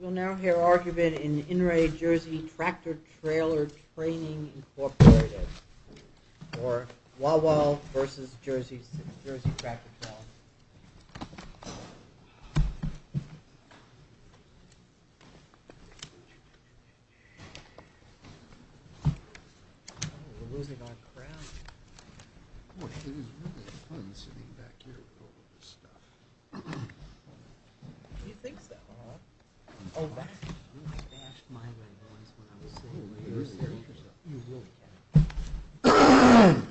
We'll now hear argument in the Inouye, Jersey Tractor-Trailer Training Incorporated for Wawa versus Jersey Tractor-Trailer. We're losing our crowd. Boy, it is really fun sitting back here with all of this stuff. Do you think so? Uh-huh. Oh, back in my past mind when I was when I was sitting over here. You really can. You really can. Ahem. I'm sure others have problems.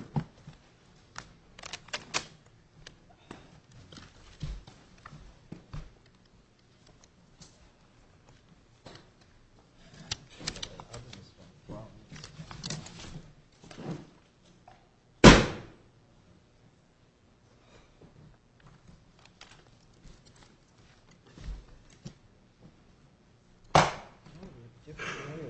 Ahem. Ahem. Ahem.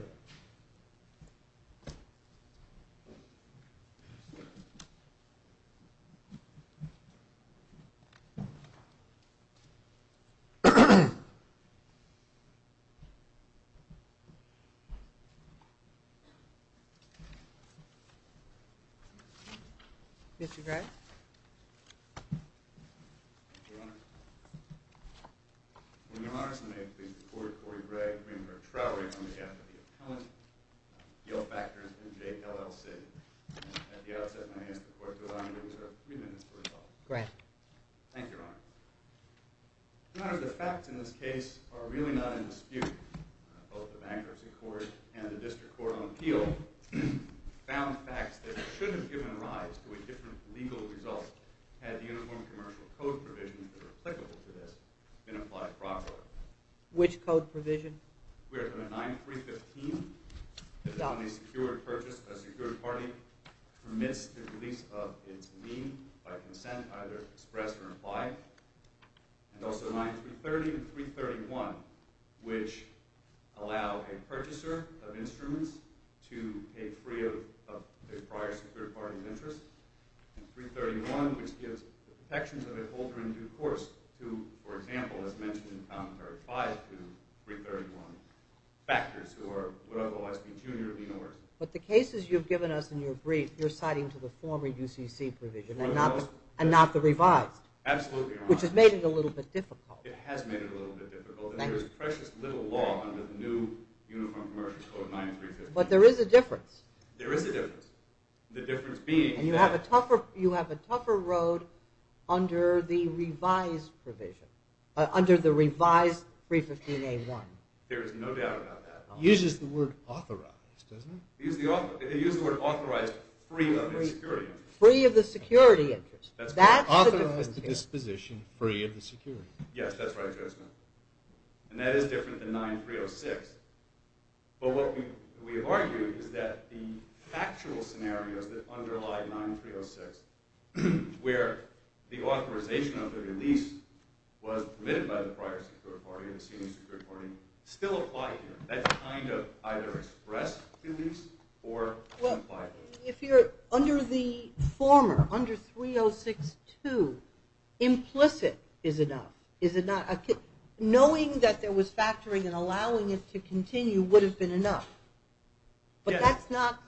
Mr. Gregg? Thank you, Your Honor. When Your Honor, may it please the Court, Corey Gregg, Greenberg, Trowery, on behalf of the appellant, Gil Factor, and J. L. L. Sid. At the outset, may I ask the Court to allow me to reserve three minutes for rebuttal. Great. Thank you, Your Honor. Your Honor, the facts in this case are really not in dispute. Both the Bankruptcy Court and the District Court on Appeal found facts that should have given rise to a different legal result had the Uniform Commercial Code provisions that are applicable to this been applied properly. Which code provision? We are talking about 9.315. Exactly. The Secured Purchase of a Secured Party permits the release of its lien by consent either expressed or implied. And also 9.330 and 3.31, which allow a purchaser of instruments to pay free of a prior secured party's interest. And 3.31, which gives protections of a holder in due course to, for example, as mentioned in Commentary 5, to 3.31 factors who would otherwise be junior of the University. But the cases you've given us in your brief, you're citing to the former UCC provision and not the revised. Absolutely, Your Honor. Which has made it a little bit difficult. It has made it a little bit difficult. There is precious little law under the new Uniform Commercial Code, 9.315. But there is a difference. There is a difference. The difference being that... And you have a tougher road under the revised provision. Under the revised 3.15a.1. There is no doubt about that. It uses the word authorized, doesn't it? It uses the word authorized free of the security interest. Free of the security interest. That's the difference here. It authorizes the disposition free of the security interest. Yes, that's right, Your Honor. And that is different than 9.306. But what we have argued is that the factual scenarios that underlie 9.306, where the authorization of the release was permitted by the prior security party, the senior security party, still apply here. That's kind of either expressed release or implied release. If you're under the former, under 3.062, implicit is enough. Knowing that there was factoring and allowing it to continue would have been enough. But that's not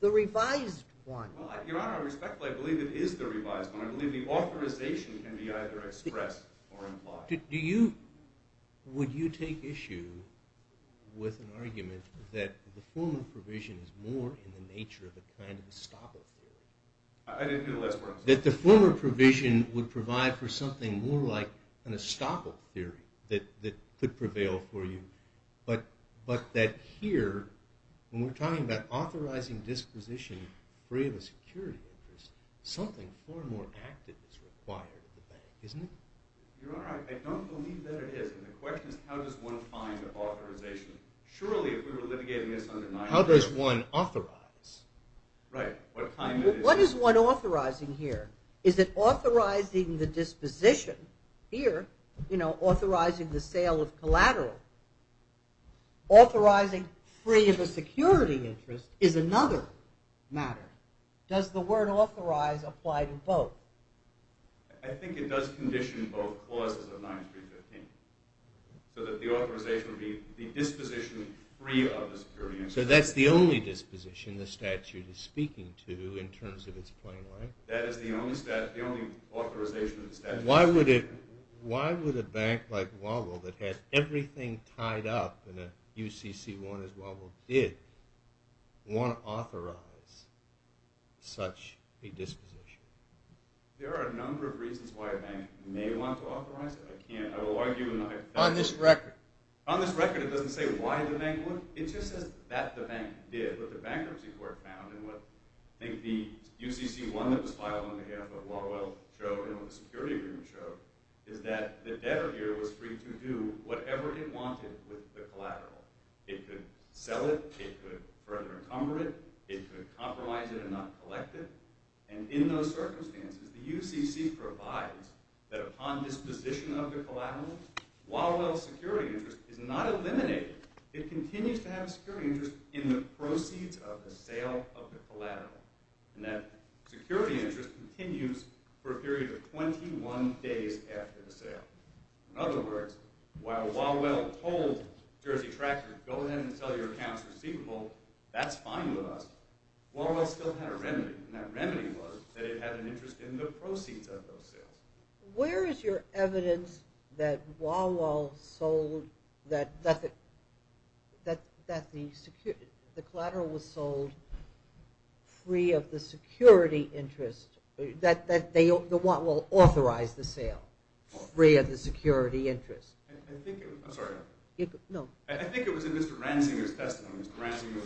the revised one. Your Honor, respectfully, I believe it is the revised one. I believe the authorization can be either expressed or implied. Would you take issue with an argument that the former provision is more in the nature of a kind of a stopper? I didn't hear the last part. That the former provision would provide for something more like an estoppel theory that could prevail for you. But that here, when we're talking about authorizing disposition free of a security interest, something far more active is required of the bank, isn't it? Your Honor, I don't believe that it is. And the question is how does one find an authorization? Surely, if we were litigating this under 9.306. How does one authorize? Right. What is one authorizing here? Is it authorizing the disposition? Here, authorizing the sale of collateral. Authorizing free of a security interest is another matter. Does the word authorize apply to both? I think it does condition both clauses of 9.315. So that the authorization would be the disposition free of a security interest. So that's the only disposition the statute is speaking to in terms of its plain language? That is the only authorization of the statute. Why would a bank like Wawel, that has everything tied up in a UCC1 as Wawel did, want to authorize such a disposition? There are a number of reasons why a bank may want to authorize it. I can't argue with that. On this record? On this record it doesn't say why the bank would. It just says that the bank did. What the bankruptcy court found, and what I think the UCC1 that was filed on behalf of Wawel showed, and what the security agreement showed, is that the debtor here was free to do whatever it wanted with the collateral. It could sell it. It could further encumber it. It could compromise it and not collect it. And in those circumstances, the UCC provides that upon disposition of the collateral, Wawel's security interest is not eliminated. It continues to have a security interest in the proceeds of the sale of the collateral. And that security interest continues for a period of 21 days after the sale. In other words, while Wawel told Jersey Tractor, go ahead and sell your accounts receivable, that's fine with us, Wawel still had a remedy, and that remedy was that it had an interest in the proceeds of those sales. Where is your evidence that Wawel sold, that the collateral was sold free of the security interest, that Wawel authorized the sale free of the security interest? I think it was in Mr. Ransinger's testimony.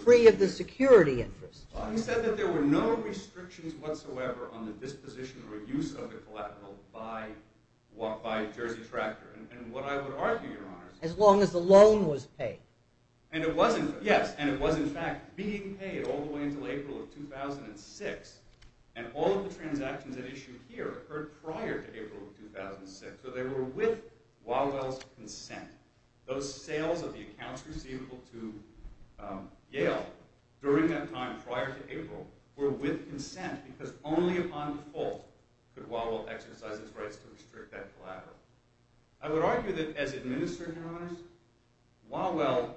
Free of the security interest. Well, he said that there were no restrictions whatsoever on the disposition or use of the collateral by Jersey Tractor. And what I would argue, Your Honors, As long as the loan was paid. Yes, and it was in fact being paid all the way until April of 2006. And all of the transactions that issued here occurred prior to April of 2006. So they were with Wawel's consent. Those sales of the accounts receivable to Yale during that time prior to April were with consent, because only upon default could Wawel exercise his rights to restrict that collateral. I would argue that as administering, Your Honors, Wawel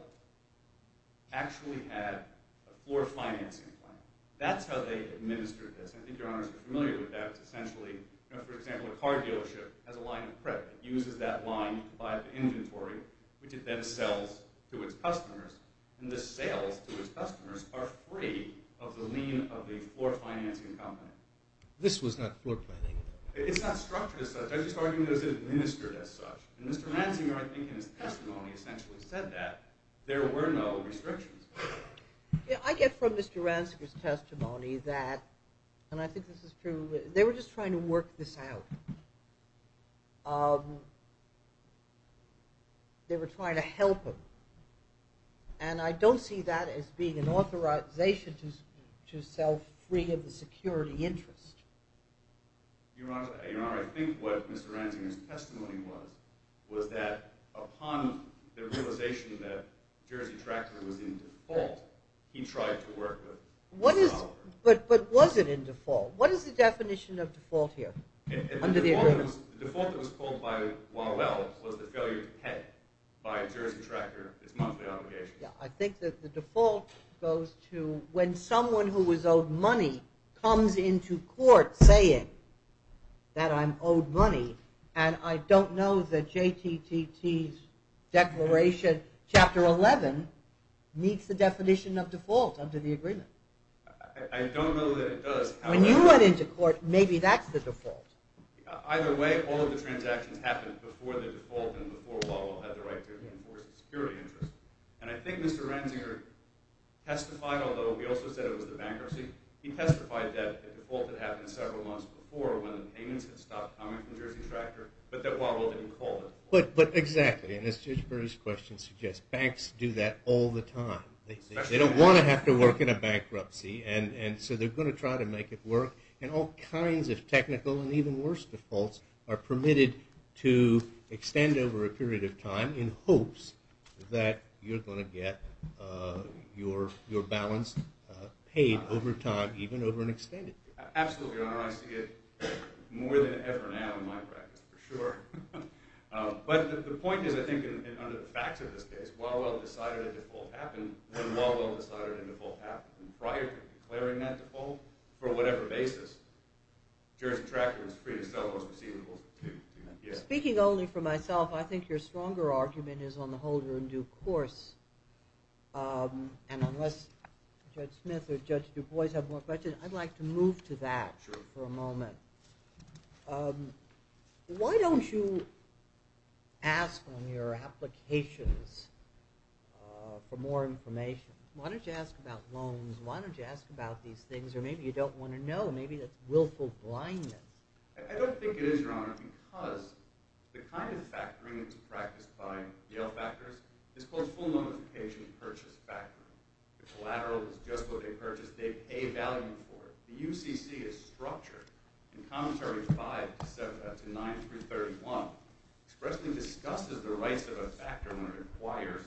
actually had a floor financing plan. That's how they administered this. I think Your Honors are familiar with that. It's essentially, for example, a car dealership has a line of credit. It uses that line to buy the inventory, which it then sells to its customers. And the sales to its customers are free of the lien of the floor financing company. This was not floor financing. It's not structured as such. I just argue it was administered as such. And Mr. Ransinger, I think in his testimony, essentially said that there were no restrictions. I get from Mr. Ransinger's testimony that, and I think this is true, they were just trying to work this out. They were trying to help him. And I don't see that as being an authorization to sell free of the security interest. Your Honor, I think what Mr. Ransinger's testimony was, was that upon the realization that Jersey Tractor was in default, he tried to work with Wawel. But was it in default? What is the definition of default here under the agreement? The default that was called by Wawel was the failure to pay by Jersey Tractor its monthly obligation. I think that the default goes to when someone who was owed money comes into court saying that I'm owed money, and I don't know that JTTT's Declaration Chapter 11 meets the definition of default under the agreement. I don't know that it does. When you went into court, maybe that's the default. Either way, all of the transactions happened before the default and before Wawel had the right to enforce the security interest. And I think Mr. Ransinger testified, although he also said it was the bankruptcy, he testified that the default had happened several months before when the payments had stopped coming from Jersey Tractor, but that Wawel didn't call it. But exactly, and as Judge Burry's question suggests, banks do that all the time. They don't want to have to work in a bankruptcy, and so they're going to try to make it work. And all kinds of technical and even worse defaults are permitted to extend over a period of time in hopes that you're going to get your balance paid over time, even over an extended period. Absolutely, Your Honor. I see it more than ever now in my practice, for sure. But the point is, I think, under the facts of this case, Wawel decided a default happened when Wawel decided a default happened prior to declaring that default for whatever basis. Jersey Tractor was free to sell those receivables. Speaking only for myself, I think your stronger argument is on the holder in due course. And unless Judge Smith or Judge DuBois have more questions, I'd like to move to that for a moment. Why don't you ask on your applications for more information? Why don't you ask about loans? Why don't you ask about these things? Or maybe you don't want to know. Maybe that's willful blindness. I don't think it is, Your Honor, because the kind of factoring that's practiced by Yale factors is called full notification purchase factoring. The collateral is just what they purchased. They pay value for it. The UCC is structured in Commentary 5 to 9331 expressly discusses the rights of a factor when it requires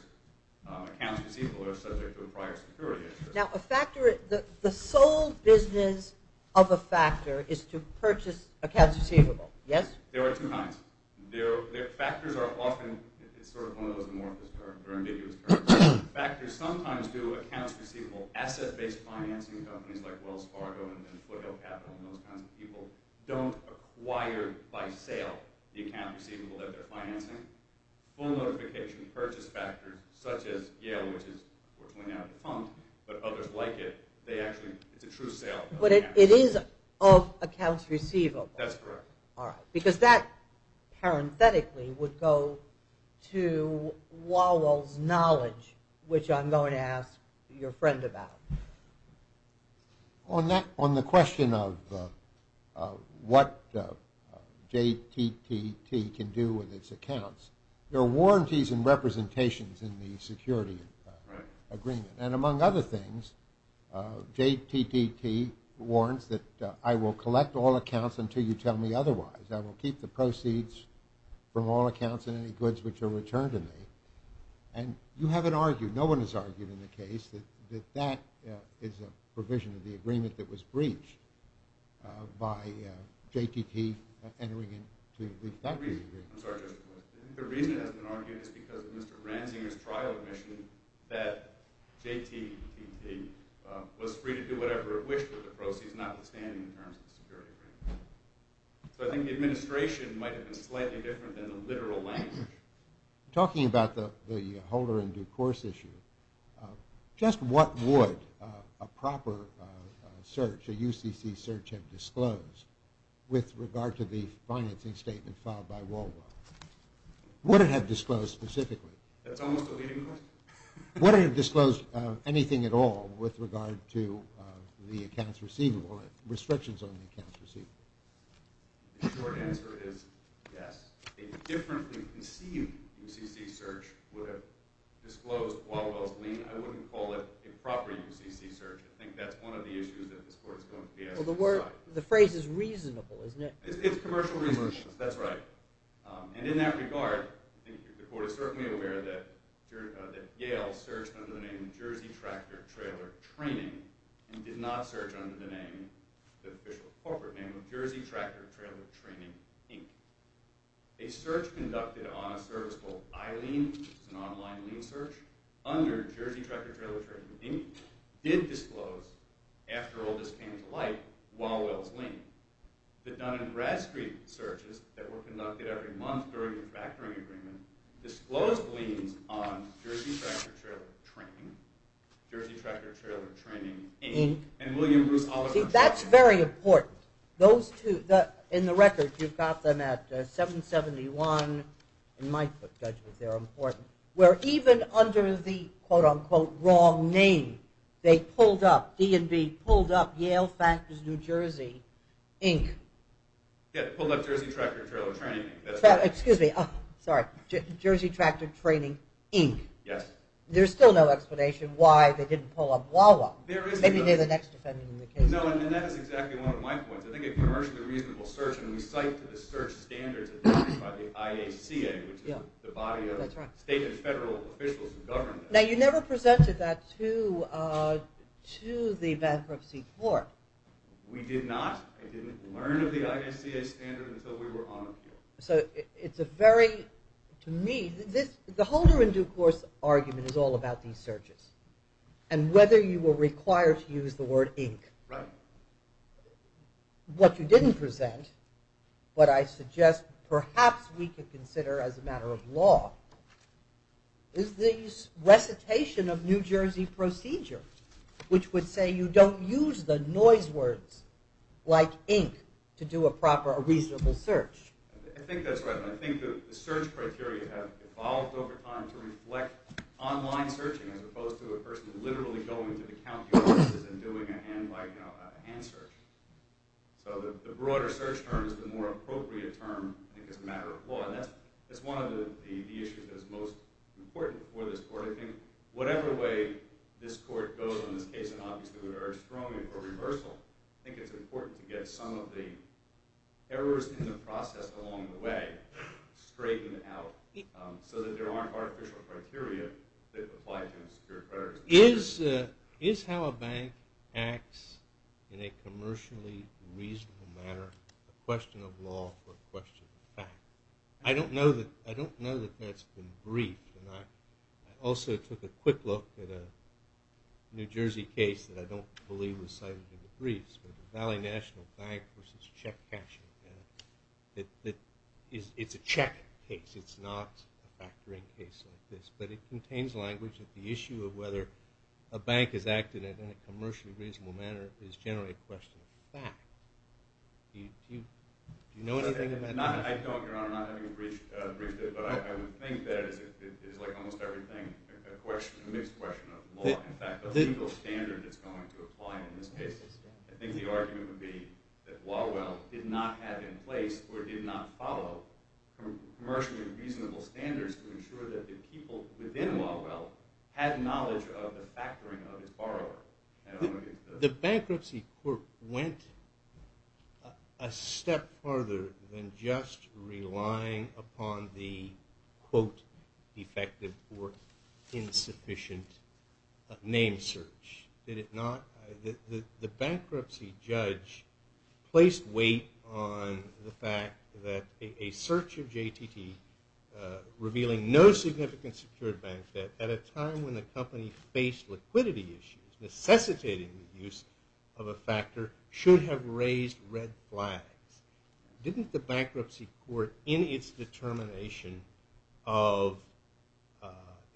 accounts receivable that are subject to a prior security insurance. Now, a factor, the sole business of a factor is to purchase accounts receivable. Yes? There are two kinds. Factors are often, it's sort of one of those amorphous terms, or ambiguous terms. Factors sometimes do accounts receivable asset-based financing companies like Wells Fargo and Foothill Capital and those kinds of people don't acquire by sale the accounts receivable that they're financing. Full notification purchase factors such as Yale, which is unfortunately now defunct, but others like it, they actually, it's a true sale. But it is of accounts receivable. That's correct. All right. Because that, parenthetically, would go to Wall Wall's knowledge, which I'm going to ask your friend about. On the question of what JTTT can do with its accounts, there are warranties and representations in the security agreement. And among other things, JTTT warrants that I will collect all accounts until you tell me otherwise. I will keep the proceeds from all accounts and any goods which are returned to me. And you haven't argued, no one has argued in the case, that that is a provision of the agreement that was breached by JTTT entering into the factory agreement. I'm sorry, just a question. The reason it hasn't been argued is because of Mr. Ranzinger's trial admission that JTTT was free to do whatever it wished with the proceeds notwithstanding the terms of the security agreement. So I think the administration might have been slightly different than the literal language. Talking about the holder in due course issue, just what would a proper search, a UCC search have disclosed with regard to the financing statement filed by Walwell? Would it have disclosed specifically? That's almost a leading question. Would it have disclosed anything at all with regard to the accounts receivable, restrictions on the accounts receivable? The short answer is yes. A differently conceived UCC search would have disclosed Walwell's lien. I wouldn't call it a proper UCC search. The phrase is reasonable, isn't it? It's commercial reasonableness, that's right. And in that regard, the court is certainly aware that Yale searched under the name Jersey Tractor Trailer Training and did not search under the official corporate name of Jersey Tractor Trailer Training, Inc. A search conducted on a service called iLean, which is an online lien search, under Jersey Tractor Trailer Training, Inc. did disclose, after all this came to light, Walwell's lien. The Dun & Bradstreet searches that were conducted every month during the factoring agreement disclosed liens on Jersey Tractor Trailer Training, Jersey Tractor Trailer Training, Inc. And William Bruce Hollis... See, that's very important. Those two, in the record, you've got them at 771. In my book, Judge, they're important. Where even under the, quote-unquote, wrong name, they pulled up, D&B pulled up Yale Factors, New Jersey, Inc. Yeah, pulled up Jersey Tractor Trailer Training, that's right. Excuse me. Sorry. Jersey Tractor Training, Inc. Yes. There's still no explanation why they didn't pull up Walwell. Maybe they're the next defendant in the case. No, and that is exactly one of my points. I think a commercially reasonable search, and we cite to the search standards identified by the IACA, which is the body of state and federal officials who govern that. Now, you never presented that to the bankruptcy court. We did not. I didn't learn of the IACA standard until we were on appeal. So it's a very, to me, the holder in due course argument is all about these searches and whether you were required to use the word Inc. Right. What you didn't present, what I suggest perhaps we could consider as a matter of law, is the recitation of New Jersey procedure, which would say you don't use the noise words like Inc. to do a proper, a reasonable search. I think that's right. I think the search criteria have evolved over time to reflect online searching as opposed to a person literally going to the county offices and doing a hand-by-hand search. So the broader search term is the more appropriate term, I think, as a matter of law. And that's one of the issues that is most important for this court. I think whatever way this court goes in this case, and obviously would urge strobing or reversal, I think it's important to get some of the errors in the process along the way straightened out so that there aren't artificial criteria that apply to insecure creditors. Is how a bank acts in a commercially reasonable manner a question of law or a question of fact? I don't know that that's been briefed, and I also took a quick look at a New Jersey case that I don't believe was cited in the briefs, Valley National Bank versus check cashing. It's a check case. It's not a factoring case like this, but it contains language that the issue of whether a bank has acted in a commercially reasonable manner is generally a question of fact. Do you know anything about that? I don't, Your Honor. I'm not having you briefed it, but I would think that it is like almost everything a question, a mixed question of law. In fact, the legal standard is going to apply in this case. I think the argument would be that Walwell did not have in place or did not follow commercially reasonable standards to ensure that the people within Walwell had knowledge of the factoring of the borrower. The bankruptcy court went a step farther than just relying upon the, quote, defective or insufficient name search. Did it not? The bankruptcy judge placed weight on the fact that a search of JTT, revealing no significant secured bank debt at a time when the company faced liquidity issues, necessitating the use of a factor, should have raised red flags. Didn't the bankruptcy court, in its determination of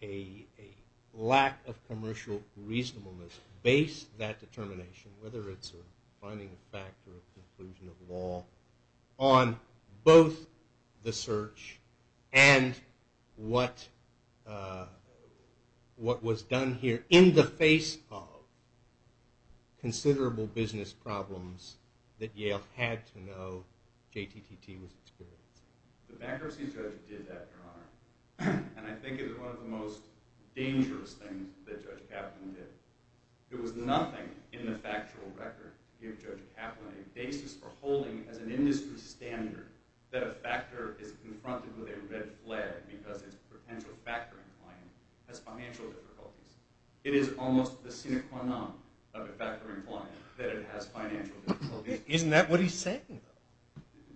a lack of commercial reasonableness, base that determination, whether it's a finding of fact or a conclusion of law, on both the search and what was done here in the face of considerable business problems that Yale had to know JTTT was experiencing? The bankruptcy judge did that, Your Honor. And I think it was one of the most dangerous things that Judge Kaplan did. It was nothing in the factual record to give Judge Kaplan a basis for holding as an industry standard that a factor is confronted with a red flag because its potential factoring client has financial difficulties. It is almost the sine qua non of a factoring client that it has financial difficulties. Isn't that what he's saying?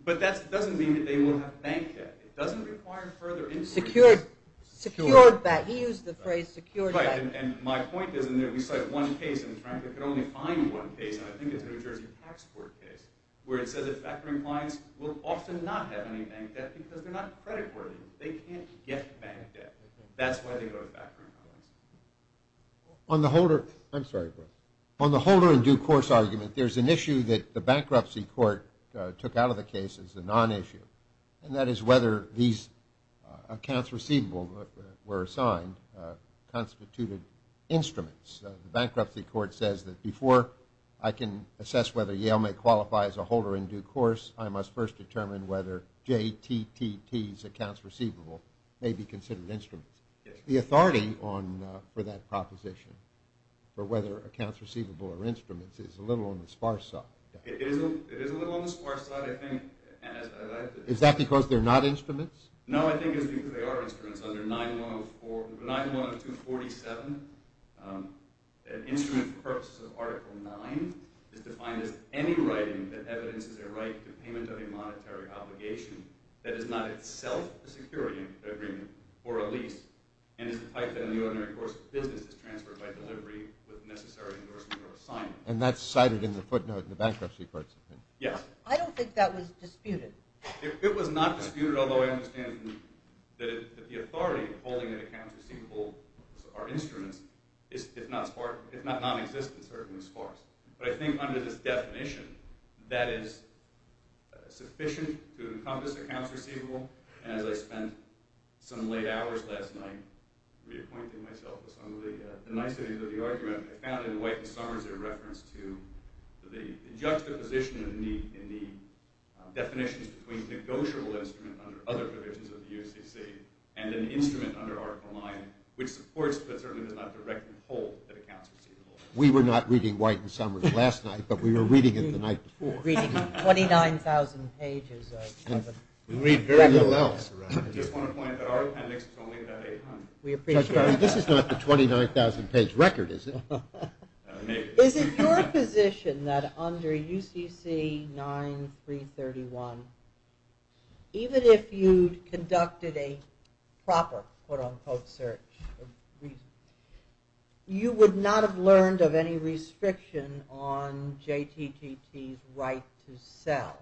But that doesn't mean that they will have bank debt. It doesn't require further insurance. Secured bank debt. He used the phrase secured bank debt. Right. And my point is, and we cite one case, and frankly, I could only find one case, and I think it's a New Jersey tax court case, where it says that factoring clients will often not have any bank debt because they're not credit worthy. They can't get bank debt. That's why they go with factoring clients. On the holder in due course argument, there's an issue that the bankruptcy court took out of the case. It's a non-issue, and that is whether these accounts receivable were assigned constituted instruments. The bankruptcy court says that before I can assess whether Yale may qualify as a holder in due course, I must first determine whether JTTT's accounts receivable may be considered instruments. The authority for that proposition, for whether accounts receivable are instruments, is a little on the sparse side. It is a little on the sparse side, I think. Is that because they're not instruments? No, I think it's because they are instruments. 910247, an instrument for purposes of Article 9, is defined as any writing that evidences a right to payment of a monetary obligation that is not itself a security agreement or a lease, and is the type that in the ordinary course of business is transferred by delivery with necessary endorsement or assignment. And that's cited in the footnote in the bankruptcy court's opinion? Yes. I don't think that was disputed. It was not disputed, although I understand that the authority of holding that accounts receivable are instruments, if not non-existent, certainly sparse. But I think under this definition, that is sufficient to encompass accounts receivable, and as I spent some late hours last night reappointing myself with some of the niceties of the argument, I found in White and Summers their reference to the juxtaposition in the definitions between negotiable instruments under other provisions of the UCC and an instrument under Article 9, which supports but certainly does not directly hold that accounts receivable. We were not reading White and Summers last night, but we were reading it the night before. We were reading 29,000 pages of records. We read very little else. I just want to point out that our appendix is only about 800. This is not the 29,000-page record, is it? Is it your position that under UCC 9331, even if you conducted a proper quote-unquote search, you would not have learned of any restriction on JTTT's right to sell,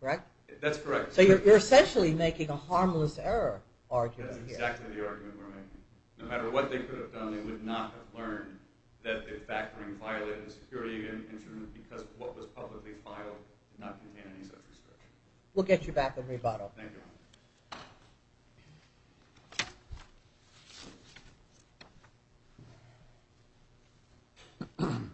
correct? That's correct. So you're essentially making a harmless error argument here. That's exactly the argument we're making. No matter what they could have done, they would not have learned that the factoring violated the security of the instrument because what was publicly filed did not contain any such restriction. We'll get you back on rebuttal. Thank you. Thank you.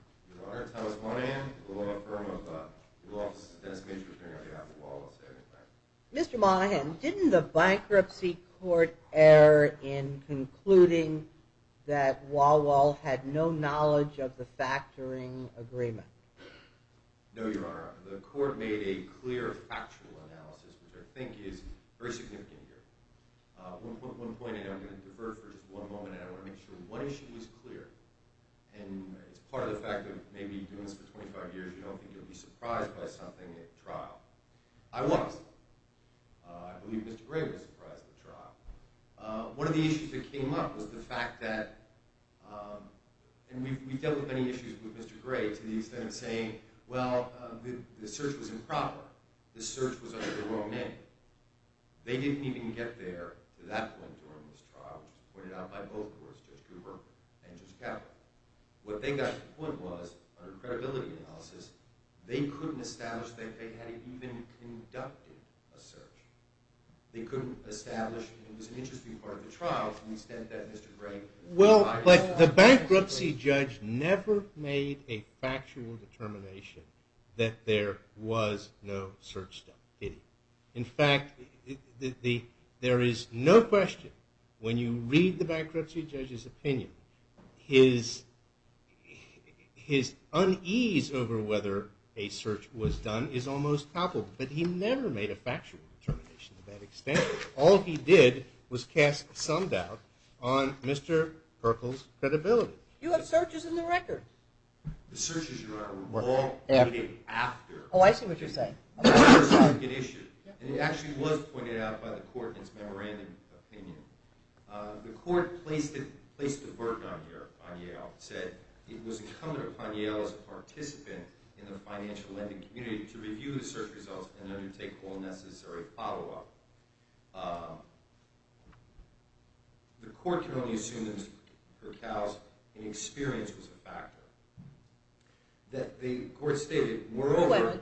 Mr. Monahan, didn't the bankruptcy court err in concluding that Wal-Wal had no knowledge of the factoring agreement? No, Your Honor. The court made a clear, factual analysis, which I think is very significant here. One point, and I'm going to defer for just one moment, and I want to make sure one issue is clear, and it's part of the fact that maybe you've been doing this for 25 years, you don't think you'll be surprised by something at trial. I was. I believe Mr. Gray was surprised at the trial. One of the issues that came up was the fact that—and we've dealt with many issues with Mr. Gray to the extent of saying, well, the search was improper. The search was under the wrong name. They didn't even get there to that point during this trial, which was pointed out by both courts, Judge Cooper and Judge Kaplan. What they got to the point was, under credibility analysis, they couldn't establish that they had even conducted a search. They couldn't establish it was an interesting part of the trial to the extent that Mr. Gray— Well, but the bankruptcy judge never made a factual determination that there was no search done, did he? In fact, there is no question when you read the bankruptcy judge's opinion, his unease over whether a search was done is almost palpable, but he never made a factual determination to that extent. All he did was cast some doubt on Mr. Herkel's credibility. You have searches in the record. The searches, Your Honor, were all made after. Oh, I see what you're saying. It actually was pointed out by the court in its memorandum opinion. The court placed a burden on Yale and said it was incumbent upon Yale as a participant in the financial lending community to review the search results and undertake all necessary follow-up. The court can only assume that Herkel's inexperience was a factor. The court stated, moreover—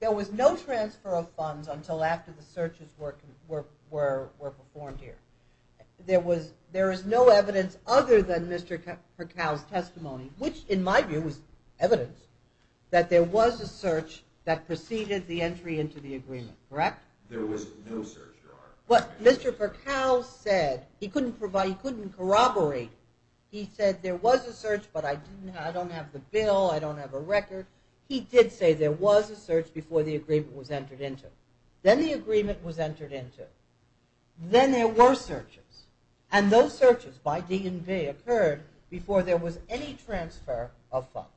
There was no transfer of funds until after the searches were performed here. There is no evidence other than Mr. Herkel's testimony, which in my view is evidence that there was a search that preceded the entry into the agreement, correct? There was no search, Your Honor. Mr. Herkel said he couldn't corroborate. He said there was a search, but I don't have the bill. I don't have a record. He did say there was a search before the agreement was entered into. Then the agreement was entered into. Then there were searches, and those searches by D&V occurred before there was any transfer of funds,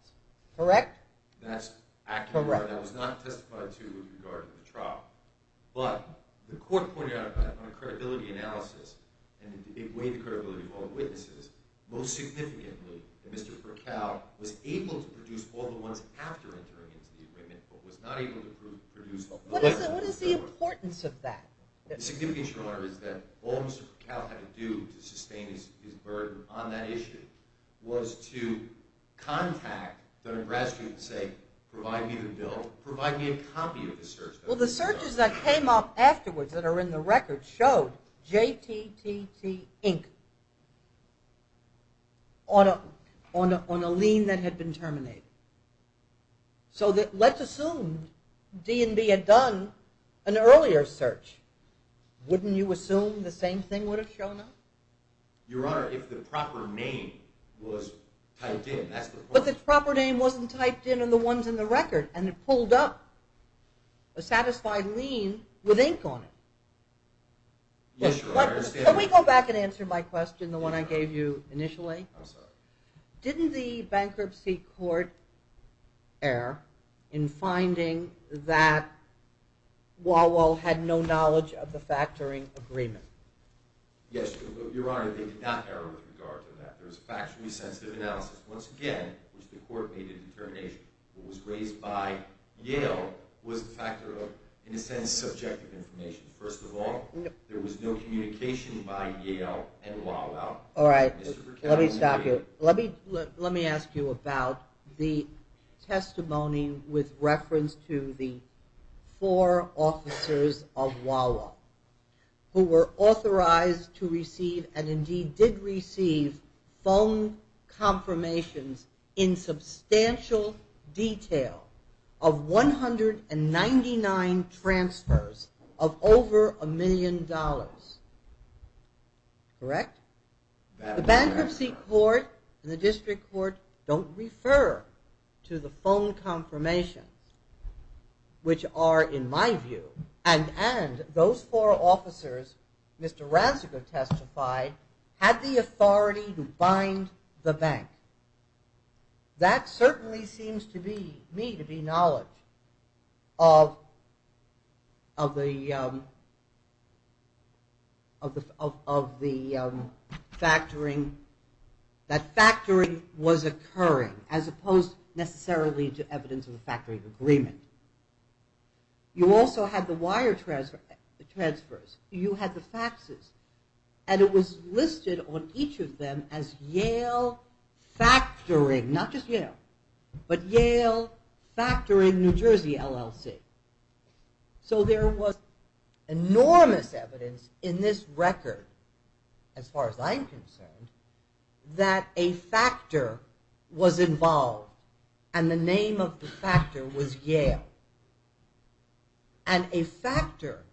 correct? That's accurate. That was not testified to with regard to the trial. But the court pointed out on a credibility analysis, and it weighed the credibility of all the witnesses, most significantly that Mr. Herkel was able to produce all the ones after entering into the agreement but was not able to produce— What is the importance of that? The significance, Your Honor, is that all Mr. Herkel had to do to sustain his burden on that issue was to contact the Nebraska State and say, provide me the bill, provide me a copy of the search. Well, the searches that came up afterwards that are in the record showed JTTT, Inc. on a lien that had been terminated. So let's assume D&V had done an earlier search. Wouldn't you assume the same thing would have shown up? Your Honor, if the proper name was typed in, that's the point. But the proper name wasn't typed in on the ones in the record, and it pulled up a satisfied lien with ink on it. Yes, Your Honor, I understand that. Can we go back and answer my question, the one I gave you initially? I'm sorry. Didn't the bankruptcy court err in finding that Wawel had no knowledge of the factoring agreement? Yes, Your Honor, they did not err with regard to that. There was factually sensitive analysis, once again, which the court made a determination. What was raised by Yale was the factor of, in a sense, subjective information. First of all, there was no communication by Yale and Wawel. All right, let me stop you. Let me ask you about the testimony with reference to the four officers of Wawel who were authorized to receive, and indeed did receive, phone confirmations in substantial detail of 199 transfers of over a million dollars. Correct? The bankruptcy court and the district court don't refer to the phone confirmations, which are, in my view, and those four officers, Mr. Rancico testified, that certainly seems to me to be knowledge of the factoring, that factoring was occurring as opposed necessarily to evidence of the factoring agreement. You also had the wire transfers. You had the faxes, and it was listed on each of them as Yale factoring, not just Yale, but Yale factoring New Jersey LLC. So there was enormous evidence in this record, as far as I'm concerned, that a factor was involved, and the name of the factor was Yale. And a factor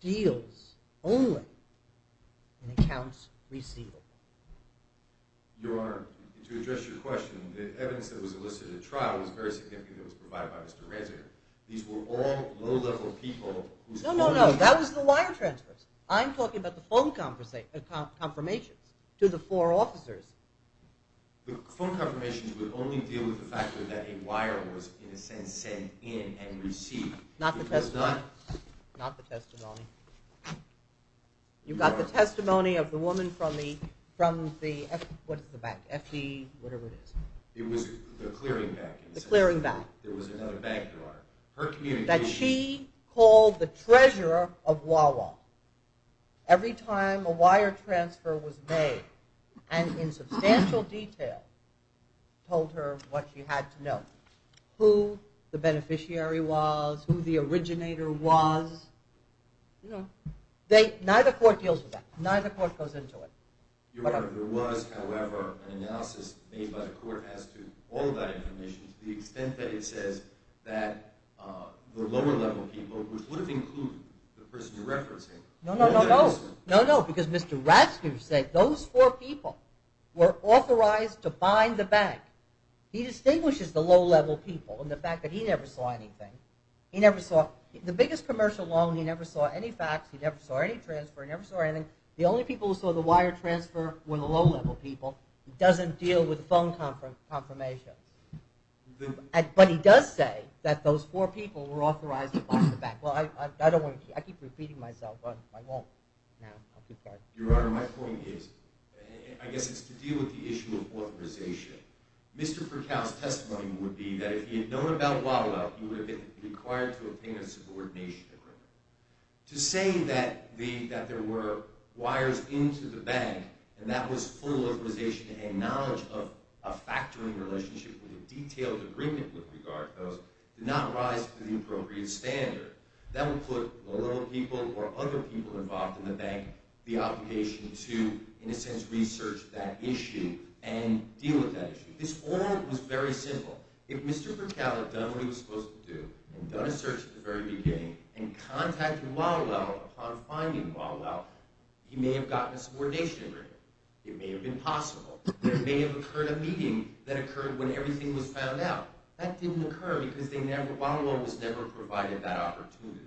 deals only in accounts receivable. Your Honor, to address your question, the evidence that was listed at trial was very significant. It was provided by Mr. Rancic. These were all low-level people. No, no, no. That was the wire transfers. I'm talking about the phone confirmations to the four officers. The phone confirmations would only deal with the fact that a wire was, in a sense, sent in and received. Not the testimony. Not the testimony. You got the testimony of the woman from the, what is the bank, FD, whatever it is. It was the clearing bank. The clearing bank. There was another bank, Your Honor. That she called the treasurer of Wawa every time a wire transfer was made and, in substantial detail, told her what she had to know, who the beneficiary was, who the originator was. Neither court deals with that. Neither court goes into it. Your Honor, there was, however, an analysis made by the court as to all of that information to the extent that it says that the lower-level people, which would have included the person you're referencing, were not listening. No, no, no. Because Mr. Ratzinger said those four people were authorized to bind the bank. He distinguishes the low-level people in the fact that he never saw anything. He never saw the biggest commercial loan. He never saw any fax. He never saw any transfer. He never saw anything. The only people who saw the wire transfer were the low-level people. He doesn't deal with phone confirmations. But he does say that those four people were authorized to bind the bank. I keep repeating myself, but I won't now. Your Honor, my point is, I guess it's to deal with the issue of authorization. Mr. Percal's testimony would be that if he had known about WADA, he would have been required to obtain a subordination agreement. To say that there were wires into the bank and that was full authorization to hang knowledge of a factoring relationship with a detailed agreement with regard to those did not rise to the appropriate standard. That would put the low-level people or other people involved in the bank the obligation to, in a sense, research that issue and deal with that issue. This all was very simple. If Mr. Percal had done what he was supposed to do and done a search at the very beginning and contacted WADA upon finding WADA, he may have gotten a subordination agreement. It may have been possible. There may have occurred a meeting that occurred when everything was found out. That didn't occur because WADA was never provided that opportunity.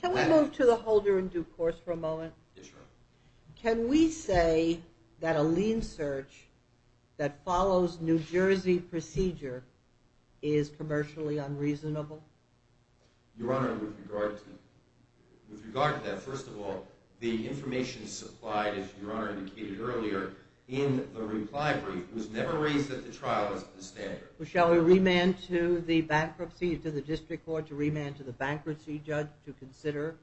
Can we move to the Holder in Due Course for a moment? Yes, Your Honor. Can we say that a lien search that follows New Jersey procedure is commercially unreasonable? Your Honor, with regard to that, first of all, the information supplied, as Your Honor indicated earlier, in the reply brief was never raised at the trial as the standard. Shall we remand to the bankruptcy, to the district court, to remand to the bankruptcy judge to consider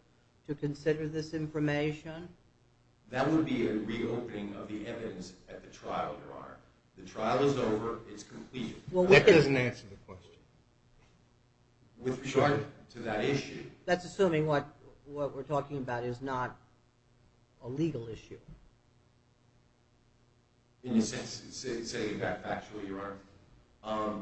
this information? That would be a reopening of the evidence at the trial, Your Honor. The trial is over. It's completed. That doesn't answer the question. With regard to that issue. That's assuming what we're talking about is not a legal issue. Can you say that factually, Your Honor?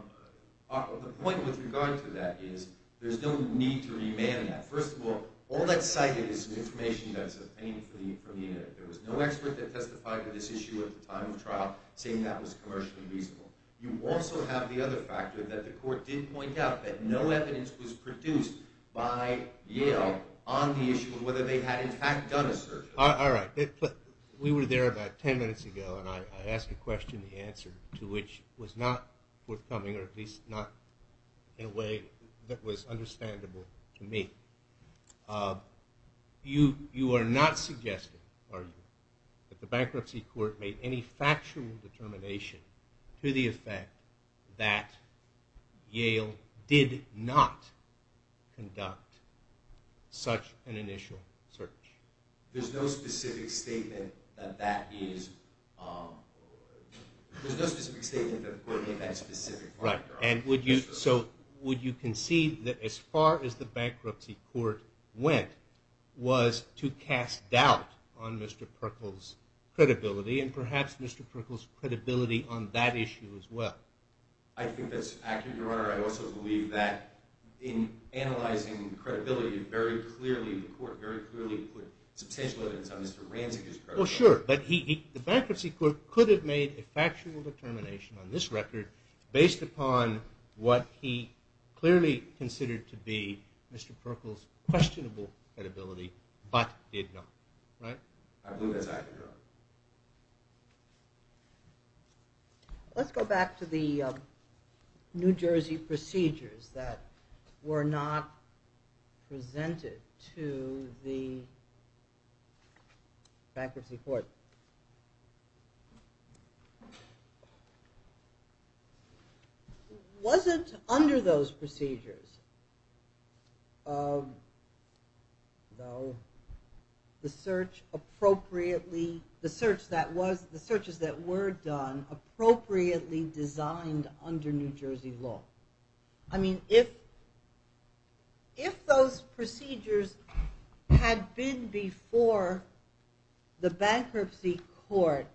The point with regard to that is there's no need to remand that. First of all, all that's cited is information that's obtained from the internet. There was no expert that testified to this issue at the time of trial saying that was commercially reasonable. You also have the other factor that the court did point out, that no evidence was produced by Yale on the issue of whether they had in fact done a search. All right. We were there about ten minutes ago, and I asked a question, the answer to which was not forthcoming, or at least not in a way that was understandable to me. You are not suggesting, are you, that the bankruptcy court made any factual determination to the effect that Yale did not conduct such an initial search? There's no specific statement that the court made that specific point, Your Honor. Would you concede that as far as the bankruptcy court went was to cast doubt on Mr. Perkle's credibility, and perhaps Mr. Perkle's credibility on that issue as well? I think that's accurate, Your Honor. I also believe that in analyzing credibility, the court very clearly put substantial evidence on Mr. Ranzig's credibility. Well, sure. But the bankruptcy court could have made a factual determination on this record based upon what he clearly considered to be Mr. Perkle's questionable credibility, but did not, right? I believe that's accurate, Your Honor. Let's go back to the New Jersey procedures that were not presented to the bankruptcy court. Was it under those procedures? No. The searches that were done appropriately designed under New Jersey law. I mean, if those procedures had been before the bankruptcy court,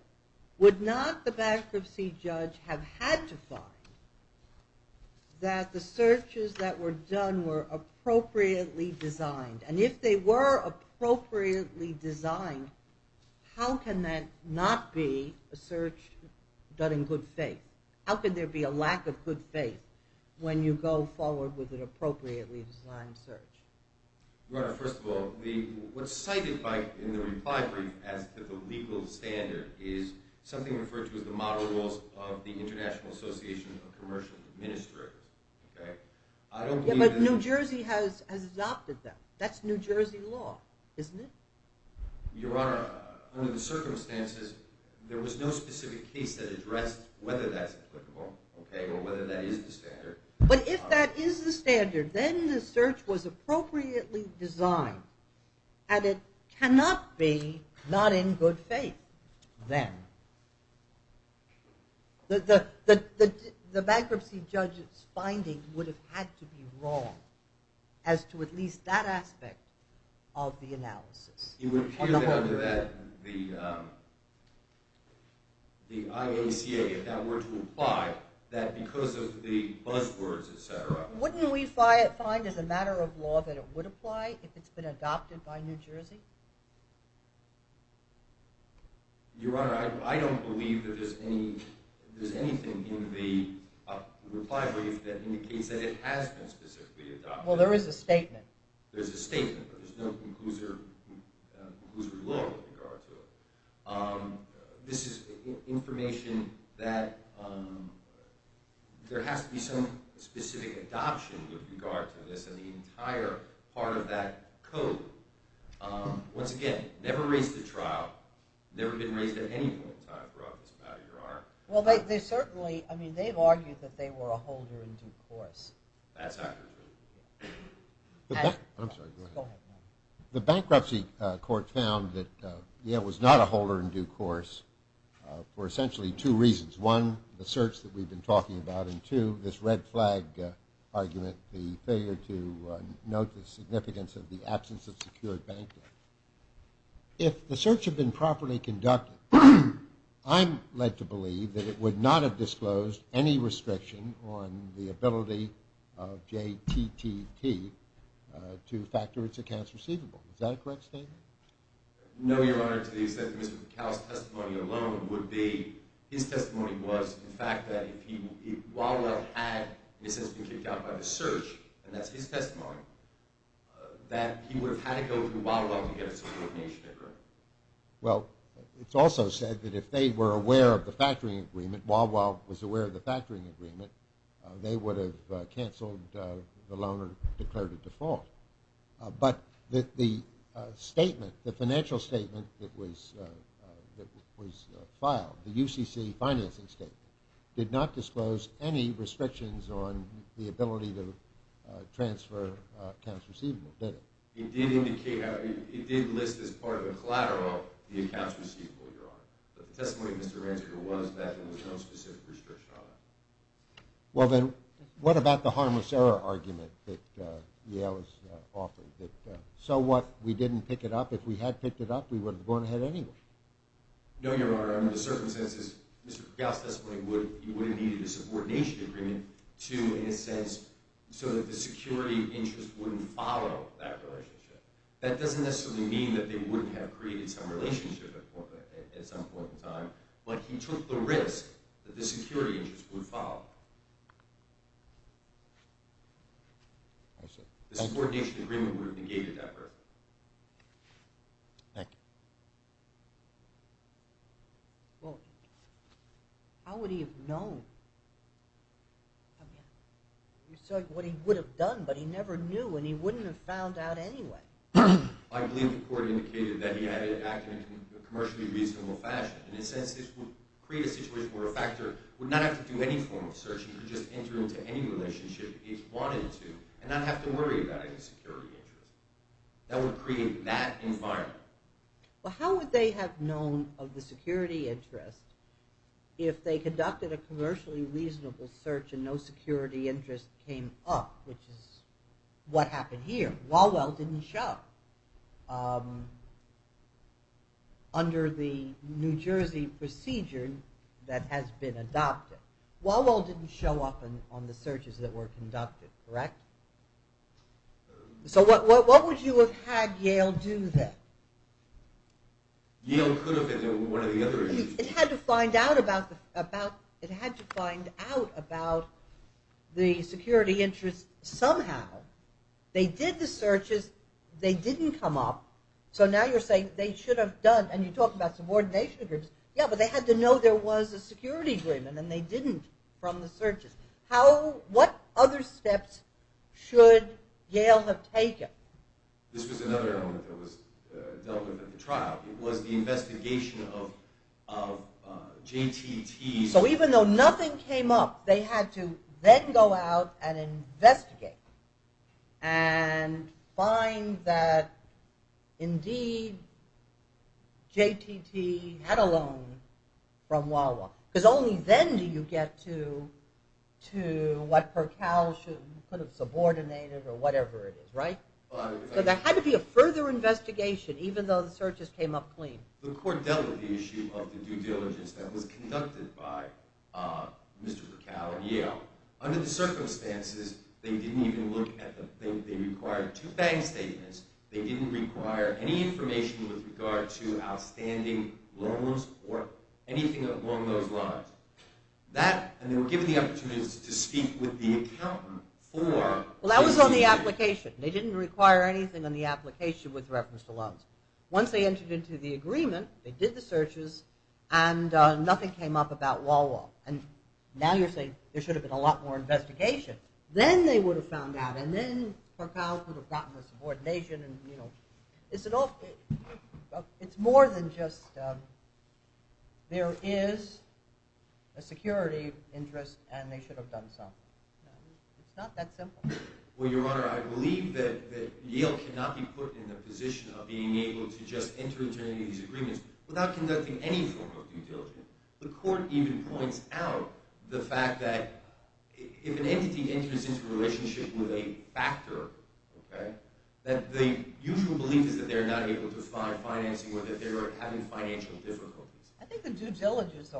would not the bankruptcy judge have had to find that the searches that were done were appropriately designed? And if they were appropriately designed, how can that not be a search done in good faith? How can there be a lack of good faith when you go forward with an appropriately designed search? Your Honor, first of all, what's cited in the reply brief as to the legal standard is something referred to as the model rules of the International Association of Commercial Administrators. But New Jersey has adopted them. That's New Jersey law, isn't it? Your Honor, under the circumstances, there was no specific case that addressed whether that's applicable or whether that is the standard. But if that is the standard, then the search was appropriately designed, and it cannot be not in good faith then. The bankruptcy judge's finding would have had to be wrong as to at least that aspect of the analysis. It would appear that under the IACA, if that were to apply, that because of the buzzwords, et cetera... Wouldn't we find as a matter of law that it would apply if it's been adopted by New Jersey? Your Honor, I don't believe that there's anything in the reply brief that indicates that it has been specifically adopted. Well, there is a statement. There's a statement, but there's no conclusory law with regard to it. This is information that there has to be some specific adoption with regard to this, and the entire part of that code, once again, never raised at trial, never been raised at any point in time throughout this matter, Your Honor. Well, they've argued that they were a holder in due course. That's accurate. I'm sorry, go ahead. The bankruptcy court found that it was not a holder in due course for essentially two reasons. One, the search that we've been talking about, and two, this red flag argument, the failure to note the significance of the absence of secured bank debt. If the search had been properly conducted, I'm led to believe that it would not have disclosed any restriction on the ability of JTTT to factor its accounts receivable. Is that a correct statement? No, Your Honor. To the extent that Mr. McCall's testimony alone would be, his testimony was the fact that if Wildwell had, in a sense, been kicked out by the search, and that's his testimony, that he would have had to go through Wildwell to get a subordination agreement. Well, it's also said that if they were aware of the factoring agreement, Wildwell was aware of the factoring agreement, they would have canceled the loan or declared it default. But the statement, the financial statement that was filed, the UCC financing statement, did not disclose any restrictions on the ability to transfer accounts receivable, did it? It did indicate, it did list as part of a collateral the accounts receivable, Your Honor. But the testimony of Mr. Ranziger was that there was no specific restriction on that. Well, then, what about the harmless error argument that Yale has offered? That so what, we didn't pick it up? If we had picked it up, we would have gone ahead anyway. No, Your Honor. Under the circumstances, Mr. McCall's testimony would have needed a subordination agreement to, in a sense, so that the security interest wouldn't follow that relationship. That doesn't necessarily mean that they wouldn't have created some relationship at some point in time, but he took the risk that the security interest would follow. The subordination agreement would have negated that risk. Thank you. Well, how would he have known? I mean, you said what he would have done, but he never knew, and he wouldn't have found out anyway. I believe the court indicated that he had acted in a commercially reasonable fashion. In a sense, this would create a situation where a factor would not have to do any form of search. He could just enter into any relationship he wanted to and not have to worry about any security interest. That would create that environment. Well, how would they have known of the security interest if they conducted a commercially reasonable search and no security interest came up, which is what happened here. Walwell didn't show. Under the New Jersey procedure that has been adopted, Walwell didn't show up on the searches that were conducted, correct? So what would you have had Yale do then? Yale could have been one of the others. It had to find out about the security interest somehow. They did the searches. They didn't come up, so now you're saying they should have done, and you talk about subordination agreements. Yeah, but they had to know there was a security agreement, and they didn't from the searches. What other steps should Yale have taken? This was another element that was dealt with at the trial. It was the investigation of JTT. So even though nothing came up, they had to then go out and investigate and find that indeed JTT had a loan from Walwell because only then do you get to what Percow should have subordinated or whatever it is, right? So there had to be a further investigation even though the searches came up clean. The court dealt with the issue of the due diligence that was conducted by Mr. Percow and Yale. Under the circumstances, they didn't even look at the thing. They required two bank statements. They didn't require any information with regard to outstanding loans or anything along those lines. They were given the opportunity to speak with the accountant. Well, that was on the application. They didn't require anything on the application with reference to loans. Once they entered into the agreement, they did the searches, and nothing came up about Walwell. Now you're saying there should have been a lot more investigation. Then they would have found out, and then Percow would have gotten the subordination. It's more than just there is a security interest, and they should have done some. It's not that simple. Well, Your Honor, I believe that Yale cannot be put in the position of being able to just enter into these agreements without conducting any form of due diligence. The court even points out the fact that if an entity enters into a relationship with a factor, that the usual belief is that they are not able to find financing or that they are having financial difficulties. I think the due diligence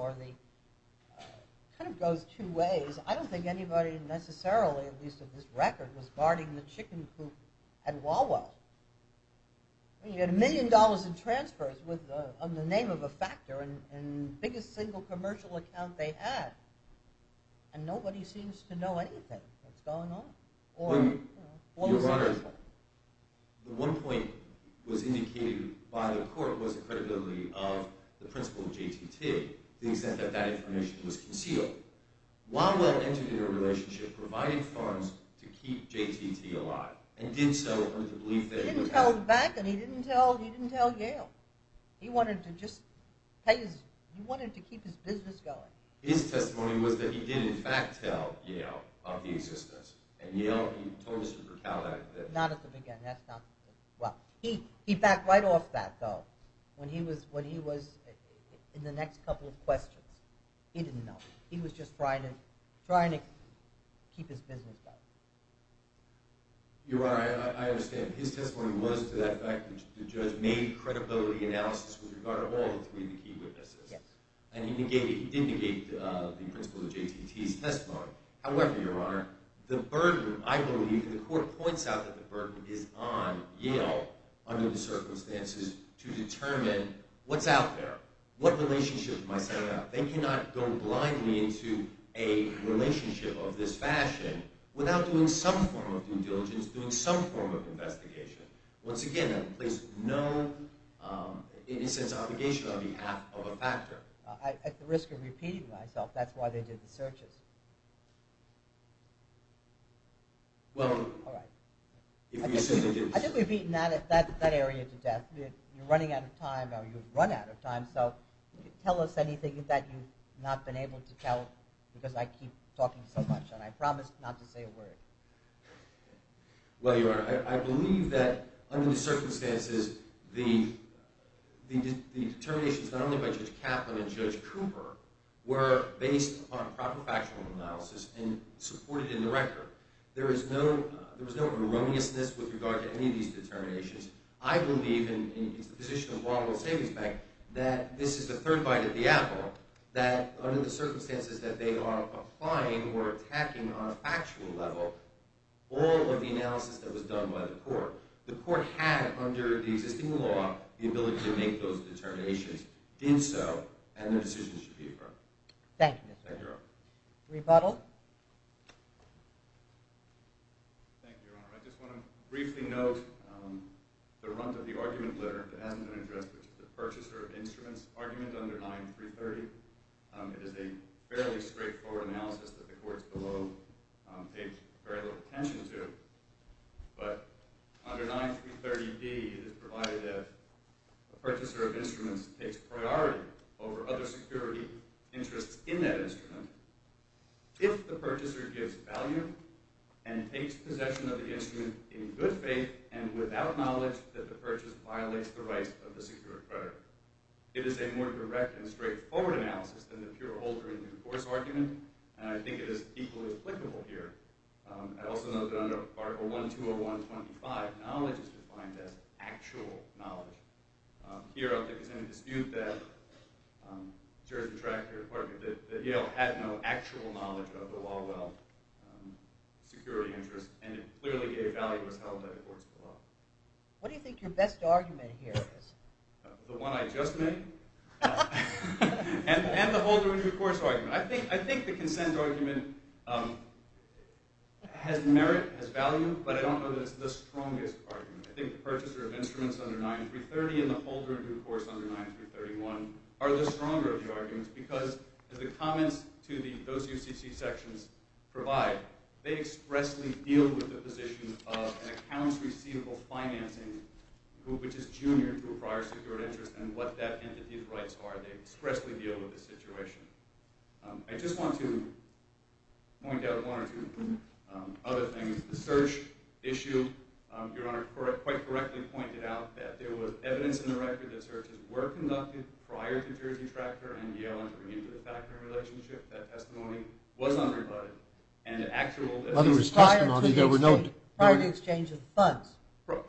goes two ways. I don't think anybody necessarily, at least at this record, was guarding the chicken coop at Walwell. You had a million dollars in transfers on the name of a factor, and the biggest single commercial account they had, and nobody seems to know anything that's going on. Your Honor, the one point that was indicated by the court was the credibility of the principal of JTT, to the extent that that information was concealed. Walwell entered into a relationship, provided funds to keep JTT alive, and did so under the belief that... He didn't tell Beck, and he didn't tell Yale. He wanted to keep his business going. His testimony was that he did, in fact, tell Yale of the existence. And Yale told Mr. Burkow that... Not at the beginning. He backed right off that, though. When he was in the next couple of questions, he didn't know. He was just trying to keep his business going. Your Honor, I understand. His testimony was to that fact that the judge made credibility analysis with regard to all three of the key witnesses. Yes. And he did negate the principal of JTT's testimony. However, Your Honor, the burden, I believe, and the court points out that the burden is on Yale, under the circumstances, to determine what's out there, what relationship am I setting up. They cannot go blindly into a relationship of this fashion without doing some form of due diligence, doing some form of investigation. Once again, that plays no, in a sense, obligation on behalf of a factor. At the risk of repeating myself, that's why they did the searches. Well... All right. I think we've beaten that area to death. You're running out of time, or you've run out of time, so tell us anything that you've not been able to tell, because I keep talking so much, and I promise not to say a word. Well, Your Honor, I believe that, under the circumstances, the determinations, not only by Judge Kaplan and Judge Cooper, were based on proper factual analysis and supported in the record. There was no erroneousness with regard to any of these determinations. I believe, and it's the position of the Longwood Savings Bank, that this is the third bite of the apple, that, under the circumstances that they are applying or attacking on a factual level, all of the analysis that was done by the court, the court had, under the existing law, the ability to make those determinations, did so, and their decisions should be affirmed. Thank you, Mr. Rowe. Thank you, Your Honor. Rebuttal? Thank you, Your Honor. I just want to briefly note the runt of the argument letter that hasn't been addressed, which is the purchaser of instruments argument under 9.330. It is a fairly straightforward analysis that the courts below paid very little attention to, but under 9.330d, it is provided that the purchaser of instruments takes priority over other security interests in that instrument if the purchaser gives value and takes possession of the instrument in good faith and without knowledge that the purchase violates the rights of the secured creditor. It is a more direct and straightforward analysis than the pure older and new course argument, and I think it is equally applicable here. I also note that under Article 1205, knowledge is defined as actual knowledge. Here, I think it's in dispute that the Yale had no actual knowledge of the Walwell security interest, and it clearly gave value as held by the courts below. What do you think your best argument here is? The one I just made and the older and new course argument. I think the consent argument has merit, has value, but I don't know that it's the strongest argument. I think the purchaser of instruments under 9.330 and the older and new course under 9.331 are the stronger of the arguments because, as the comments to those UCC sections provide, they expressly deal with the position of accounts receivable financing, which is junior to a prior secured interest and what that entity's rights are. They expressly deal with the situation. I just want to point out one or two other things. The search issue, your Honor, quite correctly pointed out that there was evidence in the record that searches were conducted prior to Jersey Tractor and Yale entering into the factory relationship. That testimony was unrebutted. In other words, prior to the exchange of funds,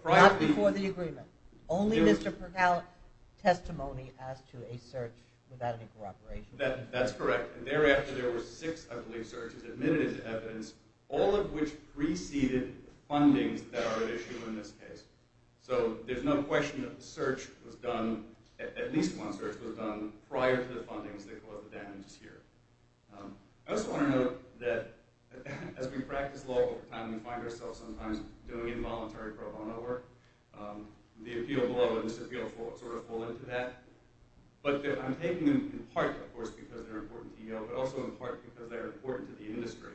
not before the agreement. Only Mr. Percal testimony as to a search without any corroboration. That's correct. Thereafter, there were six, I believe, searches admitted as evidence, all of which preceded fundings that are at issue in this case. So there's no question that the search was done, at least one search was done, prior to the fundings that caused the damages here. I also want to note that as we practice law over time, we find ourselves sometimes doing involuntary pro bono work. The appeal below and disappeal sort of fall into that. But I'm taking them in part, of course, because they're important to Yale, but also in part because they're important to the industry.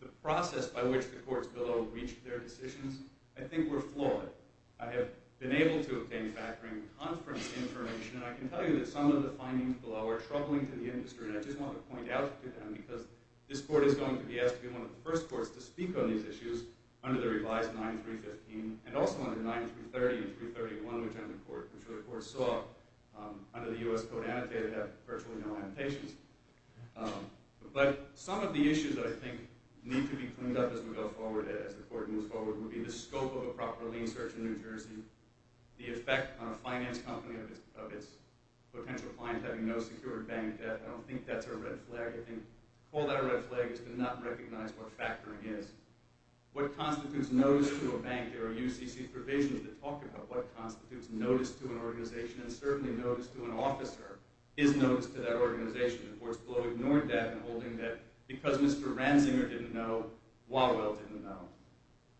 The process by which the courts below reached their decisions, I think, were flawed. I have been able to obtain factoring conference information, and I can tell you that some of the findings below are troubling to the industry, and I just want to point out to them because this court is going to be asked to be one of the first courts to speak on these issues under the revised 9-315, and also under 9-330 and 330-1, which I'm sure the court saw under the U.S. Code Annotated have virtually no annotations. But some of the issues that I think need to be cleaned up as we go forward, as the court moves forward, would be the scope of a proper lien search in New Jersey, the effect on a finance company of its potential clients having no secured bank debt. I don't think that's our red flag. I think to call that a red flag is to not recognize what factoring is. What constitutes notice to a bank? There are UCC provisions that talk about what constitutes notice to an organization, and certainly notice to an officer is notice to that organization. The courts below ignored that in holding that because Mr. Ranzinger didn't know, Wallowell didn't know.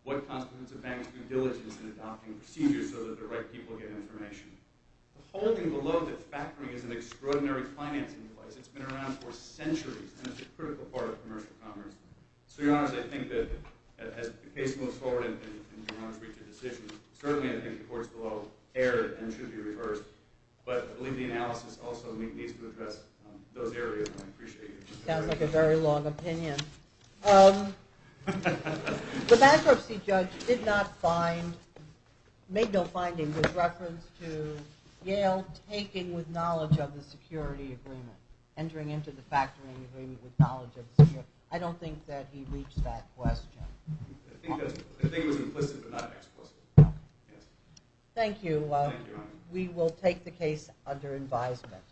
What constitutes a bank's due diligence in adopting procedures so that the right people get information? The holding below that factoring is an extraordinary financing device, it's been around for centuries, and it's a critical part of commercial commerce. So, Your Honor, as the case moves forward and Your Honor's reached a decision, certainly I think the courts below erred and should be reversed, but I believe the analysis also needs to address those areas, and I appreciate your consideration. Sounds like a very long opinion. The bankruptcy judge did not find, made no findings with reference to Yale taking with knowledge of the security agreement, entering into the factoring agreement with knowledge of the security. I don't think that he reached that question. I think it was implicit but not explicit. Thank you. We will take the case under advisement.